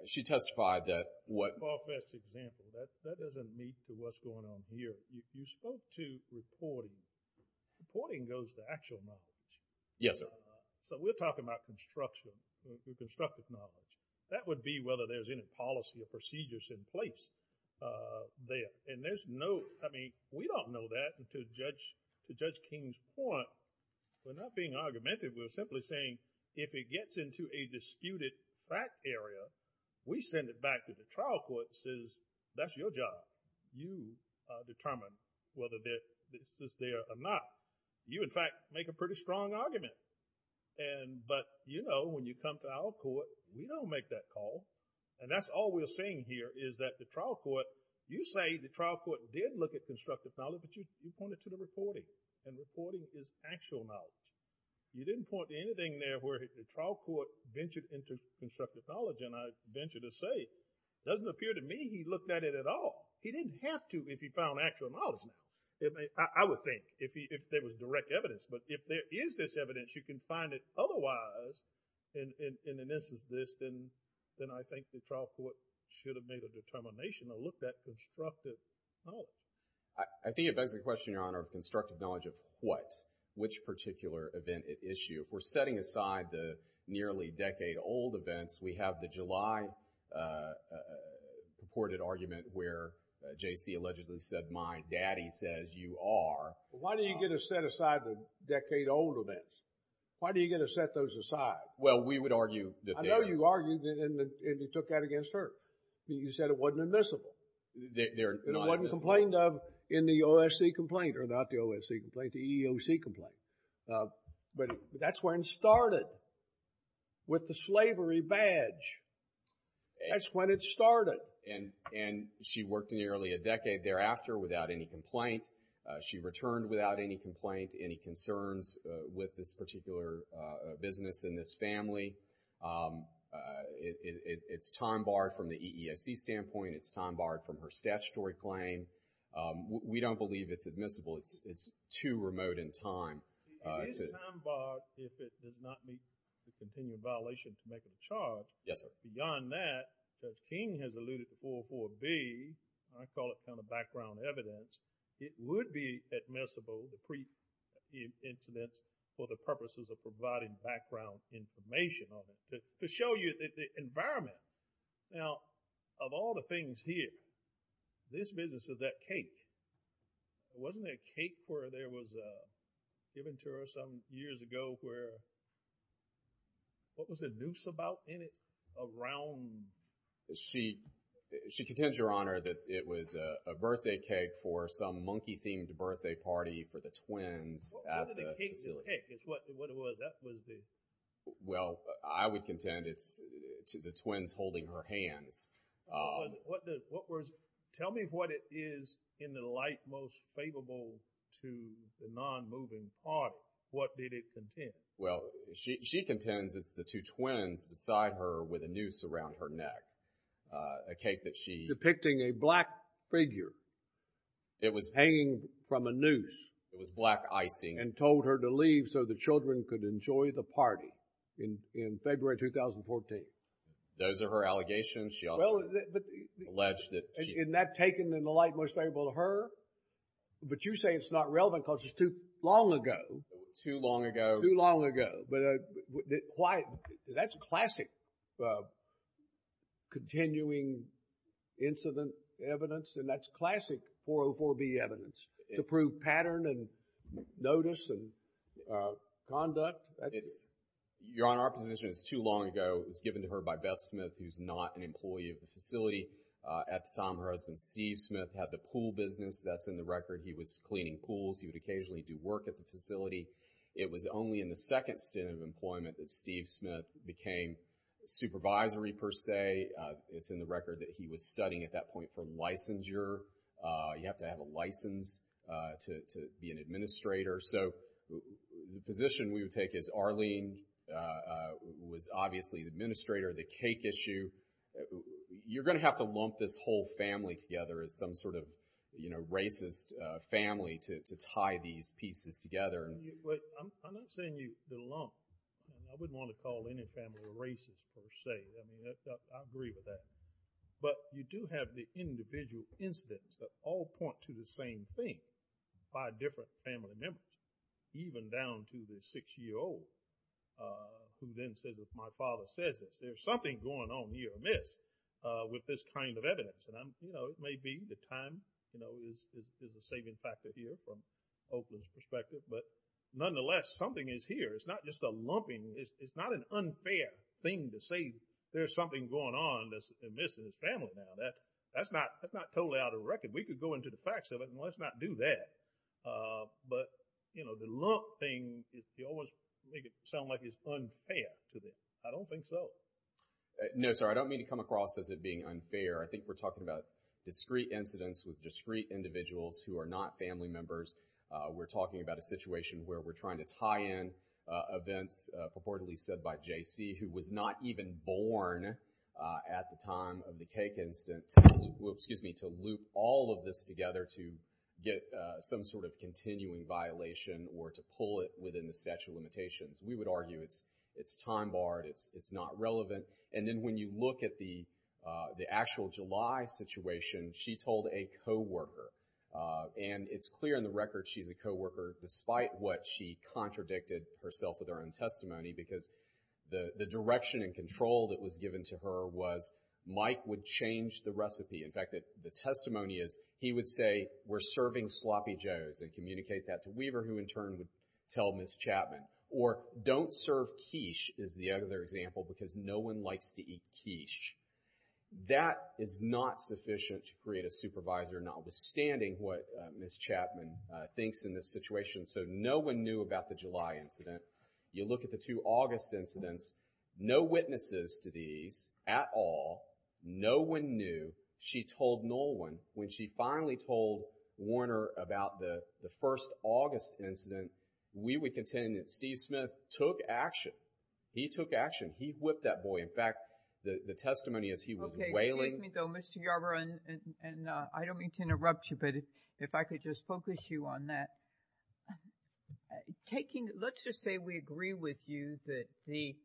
she testified that what— Far-fetched example. That doesn't lead to what's going on here. You spoke to reporting. Reporting goes to actual knowledge. Yes, sir. So we're talking about construction, constructive knowledge. That would be whether there's any policy or procedures in place there. And there's no— I mean, we don't know that to Judge King's point. We're not being argumentative. We're simply saying, if it gets into a disputed fact area, we send it back to the trial court and says, that's your job. You determine whether this is there or not. You, in fact, make a pretty strong argument. But, you know, when you come to our court, we don't make that call. And that's all we're saying here, is that the trial court— you say the trial court did look at constructive knowledge, but you pointed to the reporting. And reporting is actual knowledge. You didn't point to anything there where the trial court ventured into constructive knowledge. And I venture to say, it doesn't appear to me he looked at it at all. He didn't have to if he found actual knowledge. I would think, if there was direct evidence. But if there is this evidence, you can find it otherwise in an instance of this, then I think the trial court should have made a determination or looked at constructive knowledge. I think it begs the question, Your Honor, of constructive knowledge of what? Which particular event at issue? If we're setting aside the nearly decade-old events, we have the July reported argument where J.C. allegedly said, my daddy says you are. Why do you get to set aside the decade-old events? Why do you get to set those aside? Well, we would argue that... I know you argued and you took that against her. You said it wasn't admissible. It wasn't complained of in the OSC complaint or not the OSC complaint, the EEOC complaint. But that's when it started with the slavery badge. That's when it started. And she worked nearly a decade thereafter without any complaint. She returned without any complaint, any concerns with this particular business and this family. It's time-barred from the EEOC standpoint. It's time-barred from her statutory claim. We don't believe it's admissible. It's too remote in time. It is time-barred if it did not meet the continued violation to make it a charge. Yes, sir. Beyond that, as King has alluded to 404B, I call it kind of background evidence, it would be admissible to pre-incident for the purposes of providing background information to show you the environment. Now, of all the things here, this business is that cake. Wasn't there a cake where there was a... given to her some years ago where... What was the noose about in it? Around... She contends, Your Honor, that it was a birthday cake for some monkey-themed birthday party for the twins at the facility. What did the cake depict? It's what it was. That was the... Well, I would contend it's the twins holding her hands. Tell me what it is in the light most favorable to the non-moving part. What did it contend? Well, she contends it's the two twins beside her with a noose around her neck, a cake that she... Depicting a black figure. It was hanging from a noose. It was black icing. And told her to leave so the children could enjoy the party in February 2014. Those are her allegations. She also alleged that she... Isn't that taken in the light most favorable to her? But you say it's not relevant because it's too long ago. Too long ago. Too long ago. But that's classic continuing incident evidence and that's classic 404B evidence to prove pattern and notice and conduct. Your Honor, our position is too long ago. It's given to her by Beth Smith, who's not an employee of the facility. At the time, her husband, Steve Smith, had the pool business. That's in the record. He was cleaning pools. He would occasionally do work at the facility. It was only in the second stint of employment that Steve Smith became supervisory per se. It's in the record that he was studying at that point for licensure. You have to have a license to be an administrator. So the position we would take is Arlene was obviously the administrator of the cake issue. You're going to have to lump this whole family together as some sort of racist family to tie these pieces together. I'm not saying the lump. I wouldn't want to call any family racist per se. I agree with that. But you do have the individual incidents that all point to the same thing by different family members, even down to the six-year-old who then says, if my father says this, there's something going on here amiss with this kind of evidence. And it may be the time is a saving factor here from Oakland's perspective. But nonetheless, something is here. It's not just a lumping. It's not an unfair thing to say there's something going on that's amiss in his family. Now, that's not totally out of record. We could go into the facts of it, and let's not do that. But the lump thing, you always make it sound like it's unfair to them. I don't think so. No, sir. I don't mean to come across as it being unfair. I think we're talking about discrete incidents with discrete individuals who are not family members. We're talking about a situation where we're trying to tie in events, purportedly said by JC, who was not even born at the time of the cake incident, to loop all of this together to get some sort of continuing violation or to pull it within the statute of limitations. We would argue it's time barred. It's not relevant. And then when you look at the actual July situation, she told a co-worker. And it's clear in the record she's a co-worker, despite what she contradicted herself with her own testimony, because the direction and control that was given to her was Mike would change the recipe. In fact, the testimony is he would say, we're serving Sloppy Joes and communicate that to Weaver, who in turn would tell Ms. Chapman. Or don't serve quiche is the other example, because no one likes to eat quiche. That is not sufficient to create a supervisor, notwithstanding what Ms. Chapman thinks in this situation. So no one knew about the July incident. You look at the two August incidents, no witnesses to these at all. No one knew. She told no one. When she finally told Warner about the first August incident, we would contend that Steve Smith took action. He took action. He whipped that boy. In fact, the testimony is he was wailing. Excuse me, though, Mr. Yarbrough, and I don't mean to interrupt you, but if I could just focus you on that. Let's just say we agree with you that these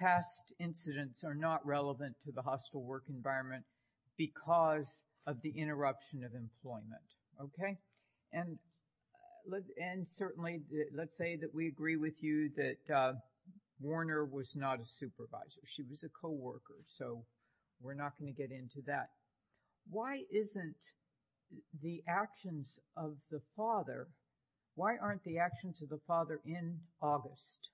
past incidents are not relevant to the hospital work environment because of the interruption of employment. Okay? And certainly, let's say that we agree with you that Warner was not a supervisor. She was a coworker. So we're not going to get into that. Why isn't the actions of the father, why aren't the actions of the father in August?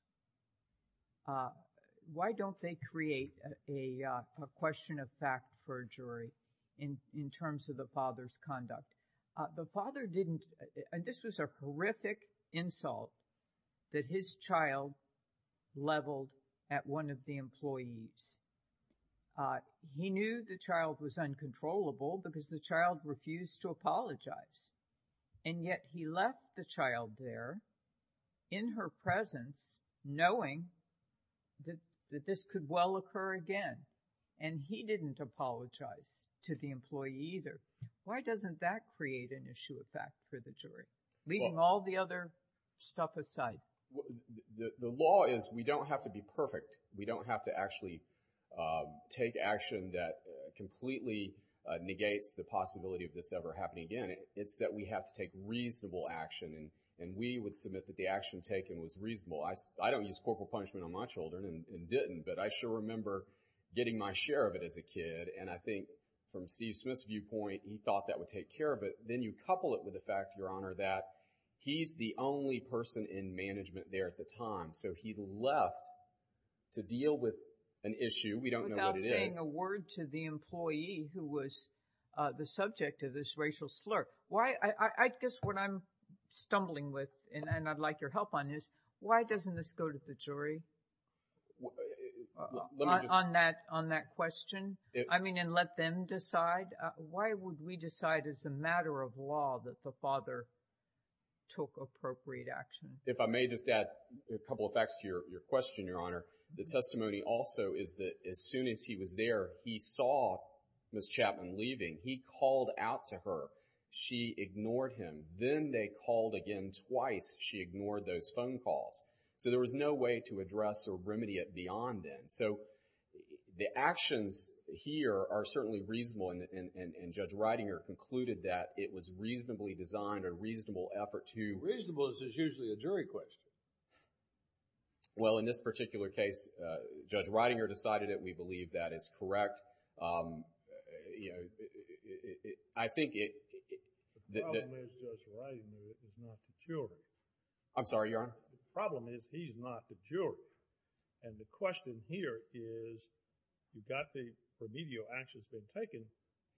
Why don't they create a question of fact for a jury in terms of the father's conduct? The father didn't, and this was a horrific insult that his child leveled at one of the employees. He knew the child was uncontrollable because the child refused to apologize, and yet he left the child there in her presence knowing that this could well occur again, and he didn't apologize to the employee either. Why doesn't that create an issue of fact for the jury, leaving all the other stuff aside? The law is we don't have to be perfect. We don't have to actually take action that completely negates the possibility of this ever happening again. It's that we have to take reasonable action, and we would submit that the action taken was reasonable. I don't use corporal punishment on my children and didn't, but I sure remember getting my share of it as a kid, and I think from Steve Smith's viewpoint, he thought that would take care of it. Then you couple it with the fact, Your Honor, that he's the only person in management there at the time, so he left to deal with an issue. We don't know what it is. Without saying a word to the employee who was the subject of this racial slur, why, I guess what I'm stumbling with, and I'd like your help on this, why doesn't this go to the jury on that question? I mean, and let them decide. Why would we decide as a matter of law that the father took appropriate action? If I may just add a couple of facts to your question, Your Honor. The testimony also is that as soon as he was there, he saw Ms. Chapman leaving. He called out to her. She ignored him. Then they called again twice. She ignored those phone calls. So there was no way to address or remedy it beyond then. So the actions here are certainly reasonable, and Judge Ridinger concluded that it was reasonably designed and reasonable effort to— It's a jury question. Well, in this particular case, Judge Ridinger decided it. We believe that is correct. I think it— The problem is Judge Ridinger is not the jury. I'm sorry, Your Honor? The problem is he's not the jury. And the question here is you got the remedial actions been taken.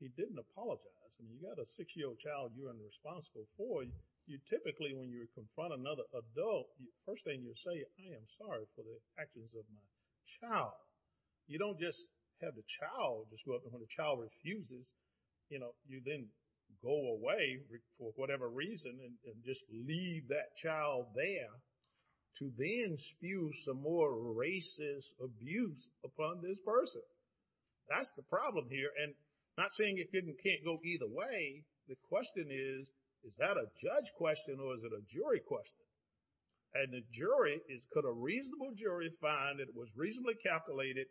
He didn't apologize. And you've got a six-year-old child you're unresponsible for. You typically, when you confront another adult, first thing you say, I am sorry for the actions of my child. You don't just have the child— When the child refuses, you know, you then go away for whatever reason and just leave that child there to then spew some more racist abuse upon this person. That's the problem here. And not saying it can't go either way. The question is, is that a judge question or is it a jury question? And the jury is— Could a reasonable jury find that it was reasonably calculated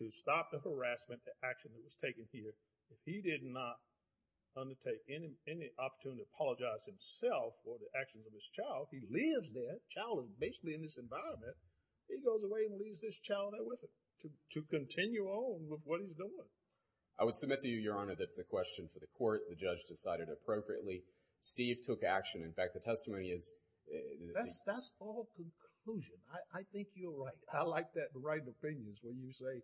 to stop the harassment, the action that was taken here, that he did not undertake any opportunity to apologize himself for the actions of his child? He lives there. Child is basically in this environment. He goes away and leaves this child there with him to continue on with what he's doing. I would submit to you, Your Honor, that's a question for the court. The judge decided appropriately. Steve took action. In fact, the testimony is— That's all conclusion. I think you're right. I like that right of opinions where you say,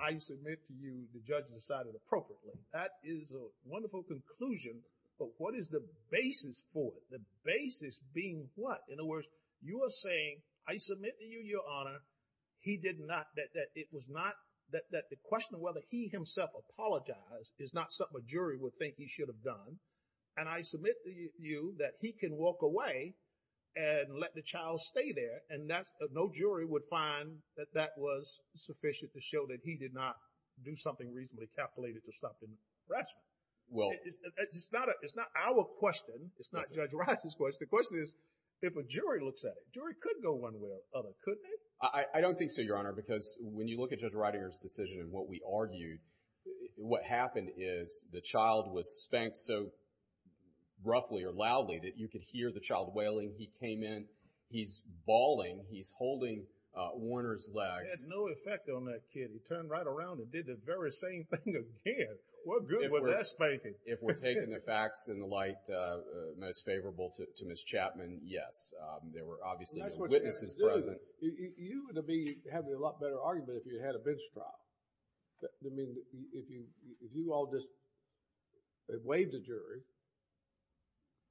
I submit to you, the judge decided appropriately. That is a wonderful conclusion, but what is the basis for it? The basis being what? In other words, you are saying, I submit to you, Your Honor, he did not— that it was not— that the question of whether he himself apologized is not something a jury would think he should have done, and I submit to you that he can walk away and let the child stay there, and no jury would find that that was sufficient to show that he did not do something reasonably calculated to stop the harassment. Well— It's not our question. It's not Judge Wright's question. The question is if a jury looks at it. Jury could go one way or the other, couldn't they? I don't think so, Your Honor, because when you look at Judge Ridinger's decision and what we argued, what happened is the child was spanked so roughly or loudly that you could hear the child wailing. He came in. He's bawling. He's holding Warner's legs. It had no effect on that kid. He turned right around and did the very same thing again. What good was that spanking? If we're taking the facts in the light most favorable to Ms. Chapman, yes, there were obviously no witnesses present. You would be having a lot better argument if you had a bench trial. I mean, if you all just waived the jury,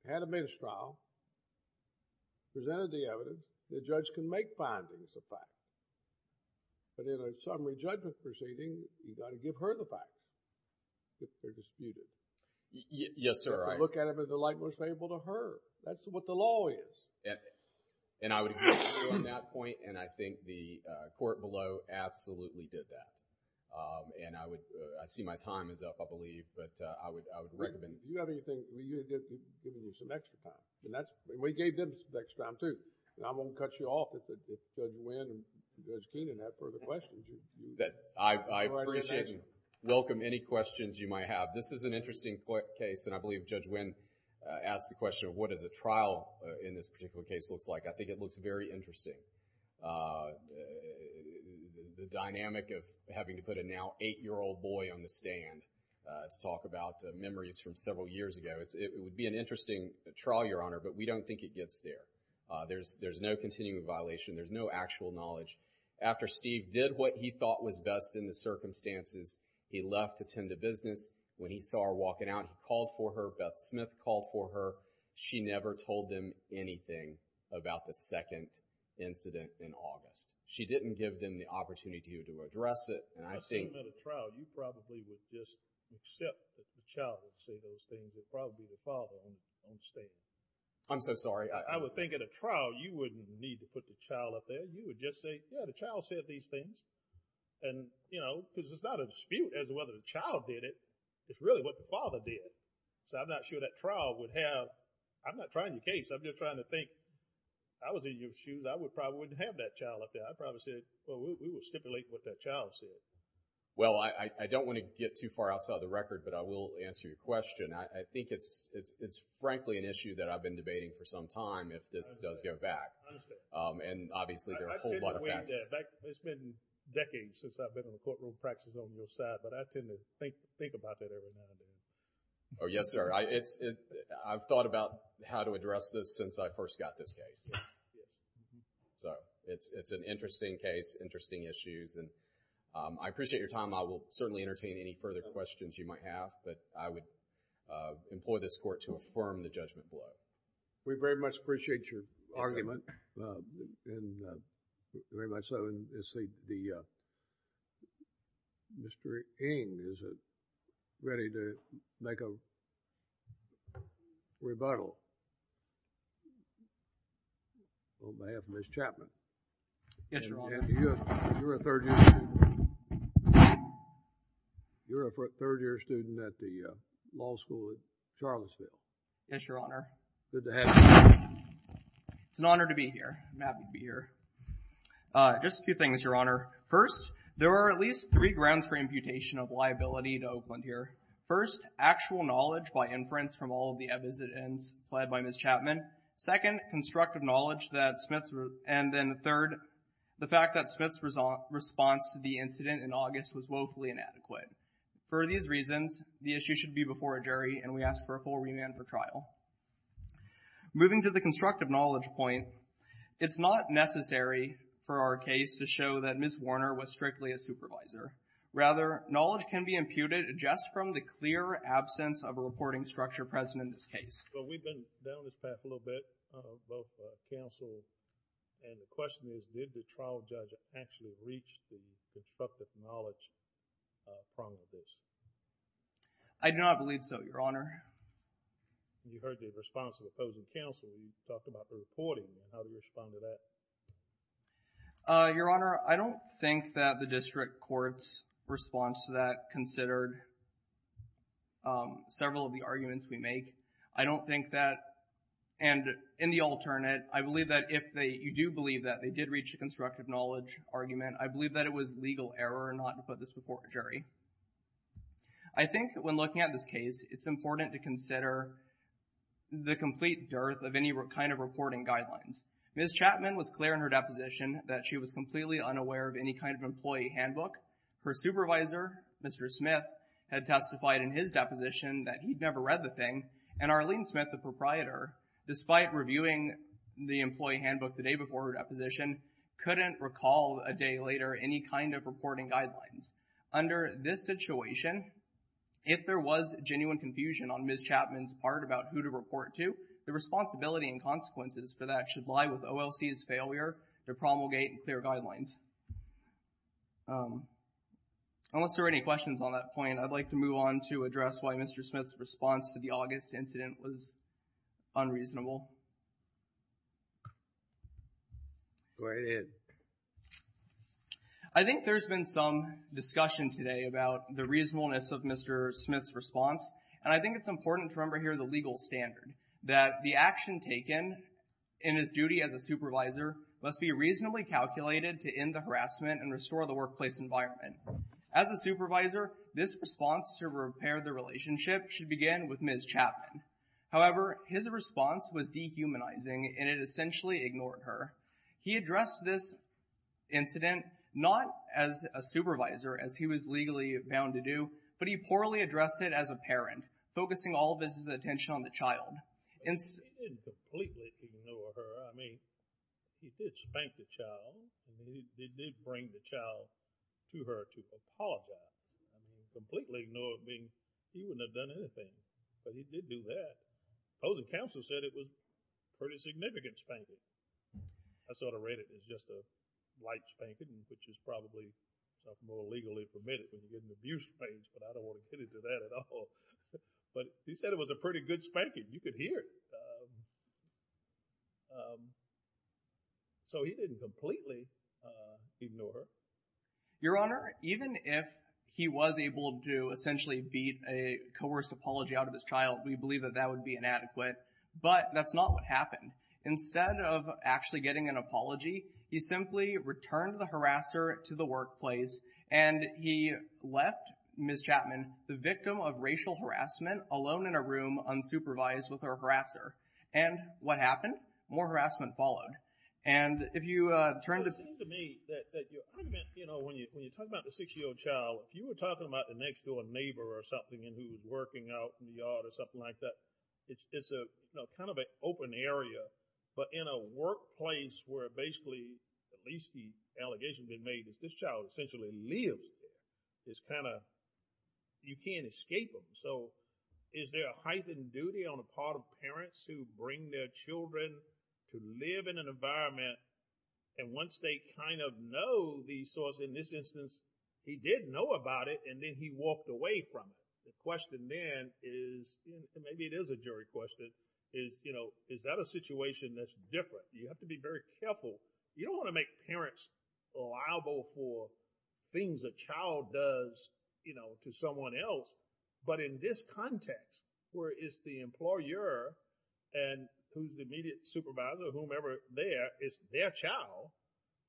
had a bench trial, presented the evidence, the judge can make findings of facts. But in a summary judgment proceeding, you've got to give her the facts if they're disputed. Yes, sir. Look at it in the light most favorable to her. That's what the law is. And I would agree with you on that point, and I think the court below absolutely did that. And I see my time is up, I believe, but I would recommend... Do you have anything... You're giving me some extra time. And that's... We gave them some extra time, too. And I'm going to cut you off if Judge Wynn and Judge Keenan have further questions. I appreciate and welcome any questions you might have. This is an interesting case, and I believe Judge Wynn asked the question of what does a trial in this particular case look like. I think it looks very interesting. The dynamic of having to put a now eight-year-old boy on the stand. Let's talk about memories from several years ago. It would be an interesting trial, Your Honor, but we don't think it gets there. There's no continuing violation. There's no actual knowledge. After Steve did what he thought was best in the circumstances, he left to tend to business. When he saw her walking out, he called for her. Beth Smith called for her. She never told them anything about the second incident in August. She didn't give them the opportunity to address it, and I think... I assume at a trial, you probably would just accept that the child would say those things. It would probably be the father on the stand. I'm so sorry. I would think at a trial, you wouldn't need to put the child up there. You would just say, yeah, the child said these things. And, you know, because it's not a dispute as to whether the child did it. It's really what the father did. So I'm not sure that trial would have... I'm not trying to case. I'm just trying to think. I was in your shoes. I would probably wouldn't have that child up there. I probably said, well, we would stipulate what that child said. Well, I don't want to get too far outside of the record, but I will answer your question. I think it's frankly an issue that I've been debating for some time if this does go back, and obviously there are a whole lot of facts. It's been decades since I've been in a courtroom practicing on your side, but I tend to think about that every now and then. Oh, yes, sir. I've thought about how to address this since I first got this case. So it's an interesting case, interesting issues, and I appreciate your time. I will certainly entertain any further questions you might have, but I would employ this court to affirm the judgment below. We very much appreciate your argument, and very much so. Mr. Ng, is it ready to make a rebuttal? On behalf of Ms. Chapman. Yes, Your Honor. You're a third year student at the law school at Charlottesville. Yes, Your Honor. Good to have you here. It's an honor to be here. I'm happy to be here. Just a few things, Your Honor. First, there are at least three grounds for imputation of liability to Oakland here. First, actual knowledge by inference from all of the evidence supplied by Ms. Chapman. Second, constructive knowledge that Smith's and then third, the fact that Smith's response to the incident in August was woefully inadequate. For these reasons, the issue should be before a jury and we ask for a full remand for trial. Moving to the constructive knowledge point, it's not necessary for our case to show that Ms. Warner was strictly a supervisor. Rather, knowledge can be imputed just from the clear absence of a reporting structure present in this case. Well, we've been down this path a little bit, both counsel and the question is, did the trial judge actually reach the constructive knowledge from this? I do not believe so, Your Honor. You heard the response of the opposing counsel. You talked about the reporting and how to respond to that. Your Honor, I don't think that the district court's response to that considered several of the arguments we make. I don't think that, and in the alternate, I believe that if you do believe that they did reach a constructive knowledge argument, I believe that it was legal error not to put this before a jury. I think when looking at this case, it's important to consider the complete dearth of any kind of reporting guidelines. Ms. Chapman was clear in her deposition that she was completely unaware of any kind of employee handbook. Her supervisor, Mr. Smith, had testified in his deposition that he'd never read the thing, and Arlene Smith, the proprietor, despite reviewing the employee handbook the day before her deposition, couldn't recall a day later any kind of reporting guidelines. Under this situation, if there was genuine confusion on Ms. Chapman's part about who to report to, the responsibility and consequences for that should lie with OLC's failure to promulgate clear guidelines. Unless there are any questions on that point, I'd like to move on to address why Mr. Smith's response to the August incident was unreasonable. I think there's been some discussion today about the reasonableness of Mr. Smith's response, and I think it's important to remember here the legal standard, that the action taken in his duty as a supervisor must be reasonably calculated to end the harassment and restore the workplace environment. As a supervisor, this response to repair the relationship should begin with Ms. Chapman. However, his response was dehumanizing, and it essentially ignored her. He addressed this incident not as a supervisor, as he was legally bound to do, but he poorly addressed it as a parent, focusing all of his attention on the child. But I don't want to get into that at all. But he said it was a pretty good spanking. You could hear it. So he didn't completely ignore her. Your Honor, even if he was able to essentially beat a coerced apology out of his child, we believe that that would be inadequate. But that's not what happened. Instead of actually getting an apology, he simply returned the harasser to the workplace, and he left Ms. Chapman the victim of racial harassment, alone in a room, unsupervised with her harasser. And what happened? More harassment followed. And if you turn to— It seems to me that your argument, you know, when you talk about the six-year-old child, if you were talking about the next door neighbor or something, and he was working out in the yard or something like that, it's kind of an open area. But in a workplace where basically, at least the allegations have been made, this child essentially lives there, you can't escape them. So is there a heightened duty on the part of parents who bring their children to live in an environment, and once they kind of know the source, in this instance, he did know about it, and then he walked away from it? The question then is, maybe it is a jury question, is, you know, is that a situation that's different? You have to be very careful. You don't want to make parents liable for things a child does, you know, to someone else. But in this context, where it's the employer and who's the immediate supervisor, whomever there, it's their child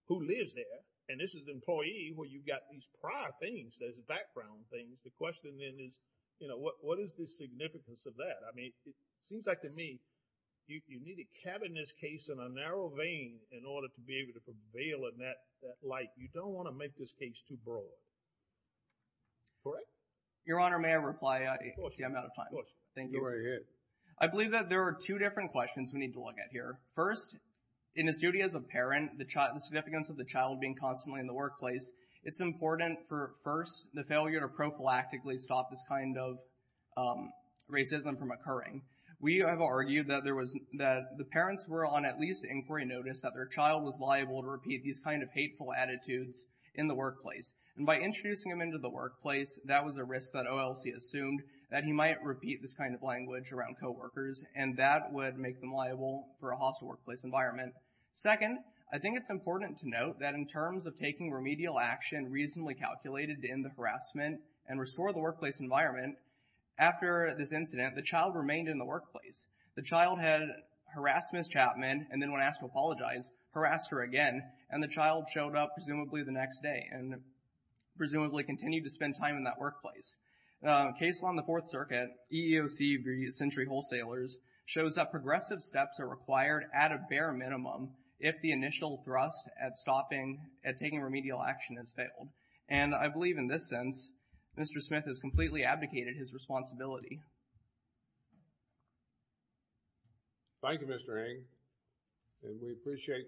who lives there, and this is the employee where you've got these prior things, those background things, the question then is, you know, what is the significance of that? I mean, it seems like to me, you need to cabin this case in a narrow vein in order to be able to prevail in that light. You don't want to make this case too broad. Correct? Your Honor, may I reply? Of course. I'm out of time. Of course. Thank you. You're already here. I believe that there are two different questions we need to look at here. First, in his duty as a parent, the significance of the child being constantly in the workplace, it's important for, first, the failure to prophylactically stop this kind of racism from occurring. We have argued that there was, that the parents were on at least inquiry notice that their child was liable to repeat these kind of hateful attitudes in the workplace. And by introducing him into the workplace, that was a risk that OLC assumed that he might repeat this kind of language around coworkers, and that would make them liable for a hostile workplace environment. Second, I think it's important to note that in terms of taking remedial action reasonably calculated to end the harassment and restore the workplace environment, after this incident, the child remained in the workplace. The child had harassed Ms. Chapman and then when asked to apologize, harassed her again, and the child showed up presumably the next day and presumably continued to spend time in that workplace. Case law in the Fourth Circuit, EEOC, Egregious Injury Wholesalers, shows that progressive steps are required at a bare minimum if the initial thrust at stopping, at taking remedial action has failed. And I believe in this sense, Mr. Smith has completely abdicated his responsibility. Thank you, Mr. Ng. And we appreciate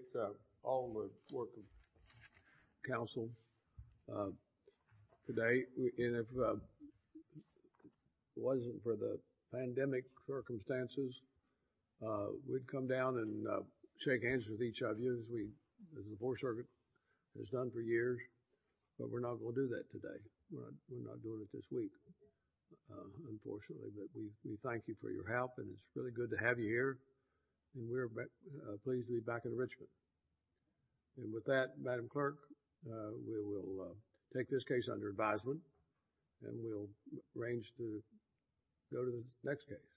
all the work of counsel today. And if it wasn't for the pandemic circumstances, we'd come down and shake hands with each other. As we, as the Fourth Circuit has done for years, but we're not going to do that today. We're not doing it this week, unfortunately. But we thank you for your help and it's really good to have you here. And we're pleased to be back in Richmond. And with that, Madam Clerk, we will take this case under advisement and we'll arrange to go to the next case.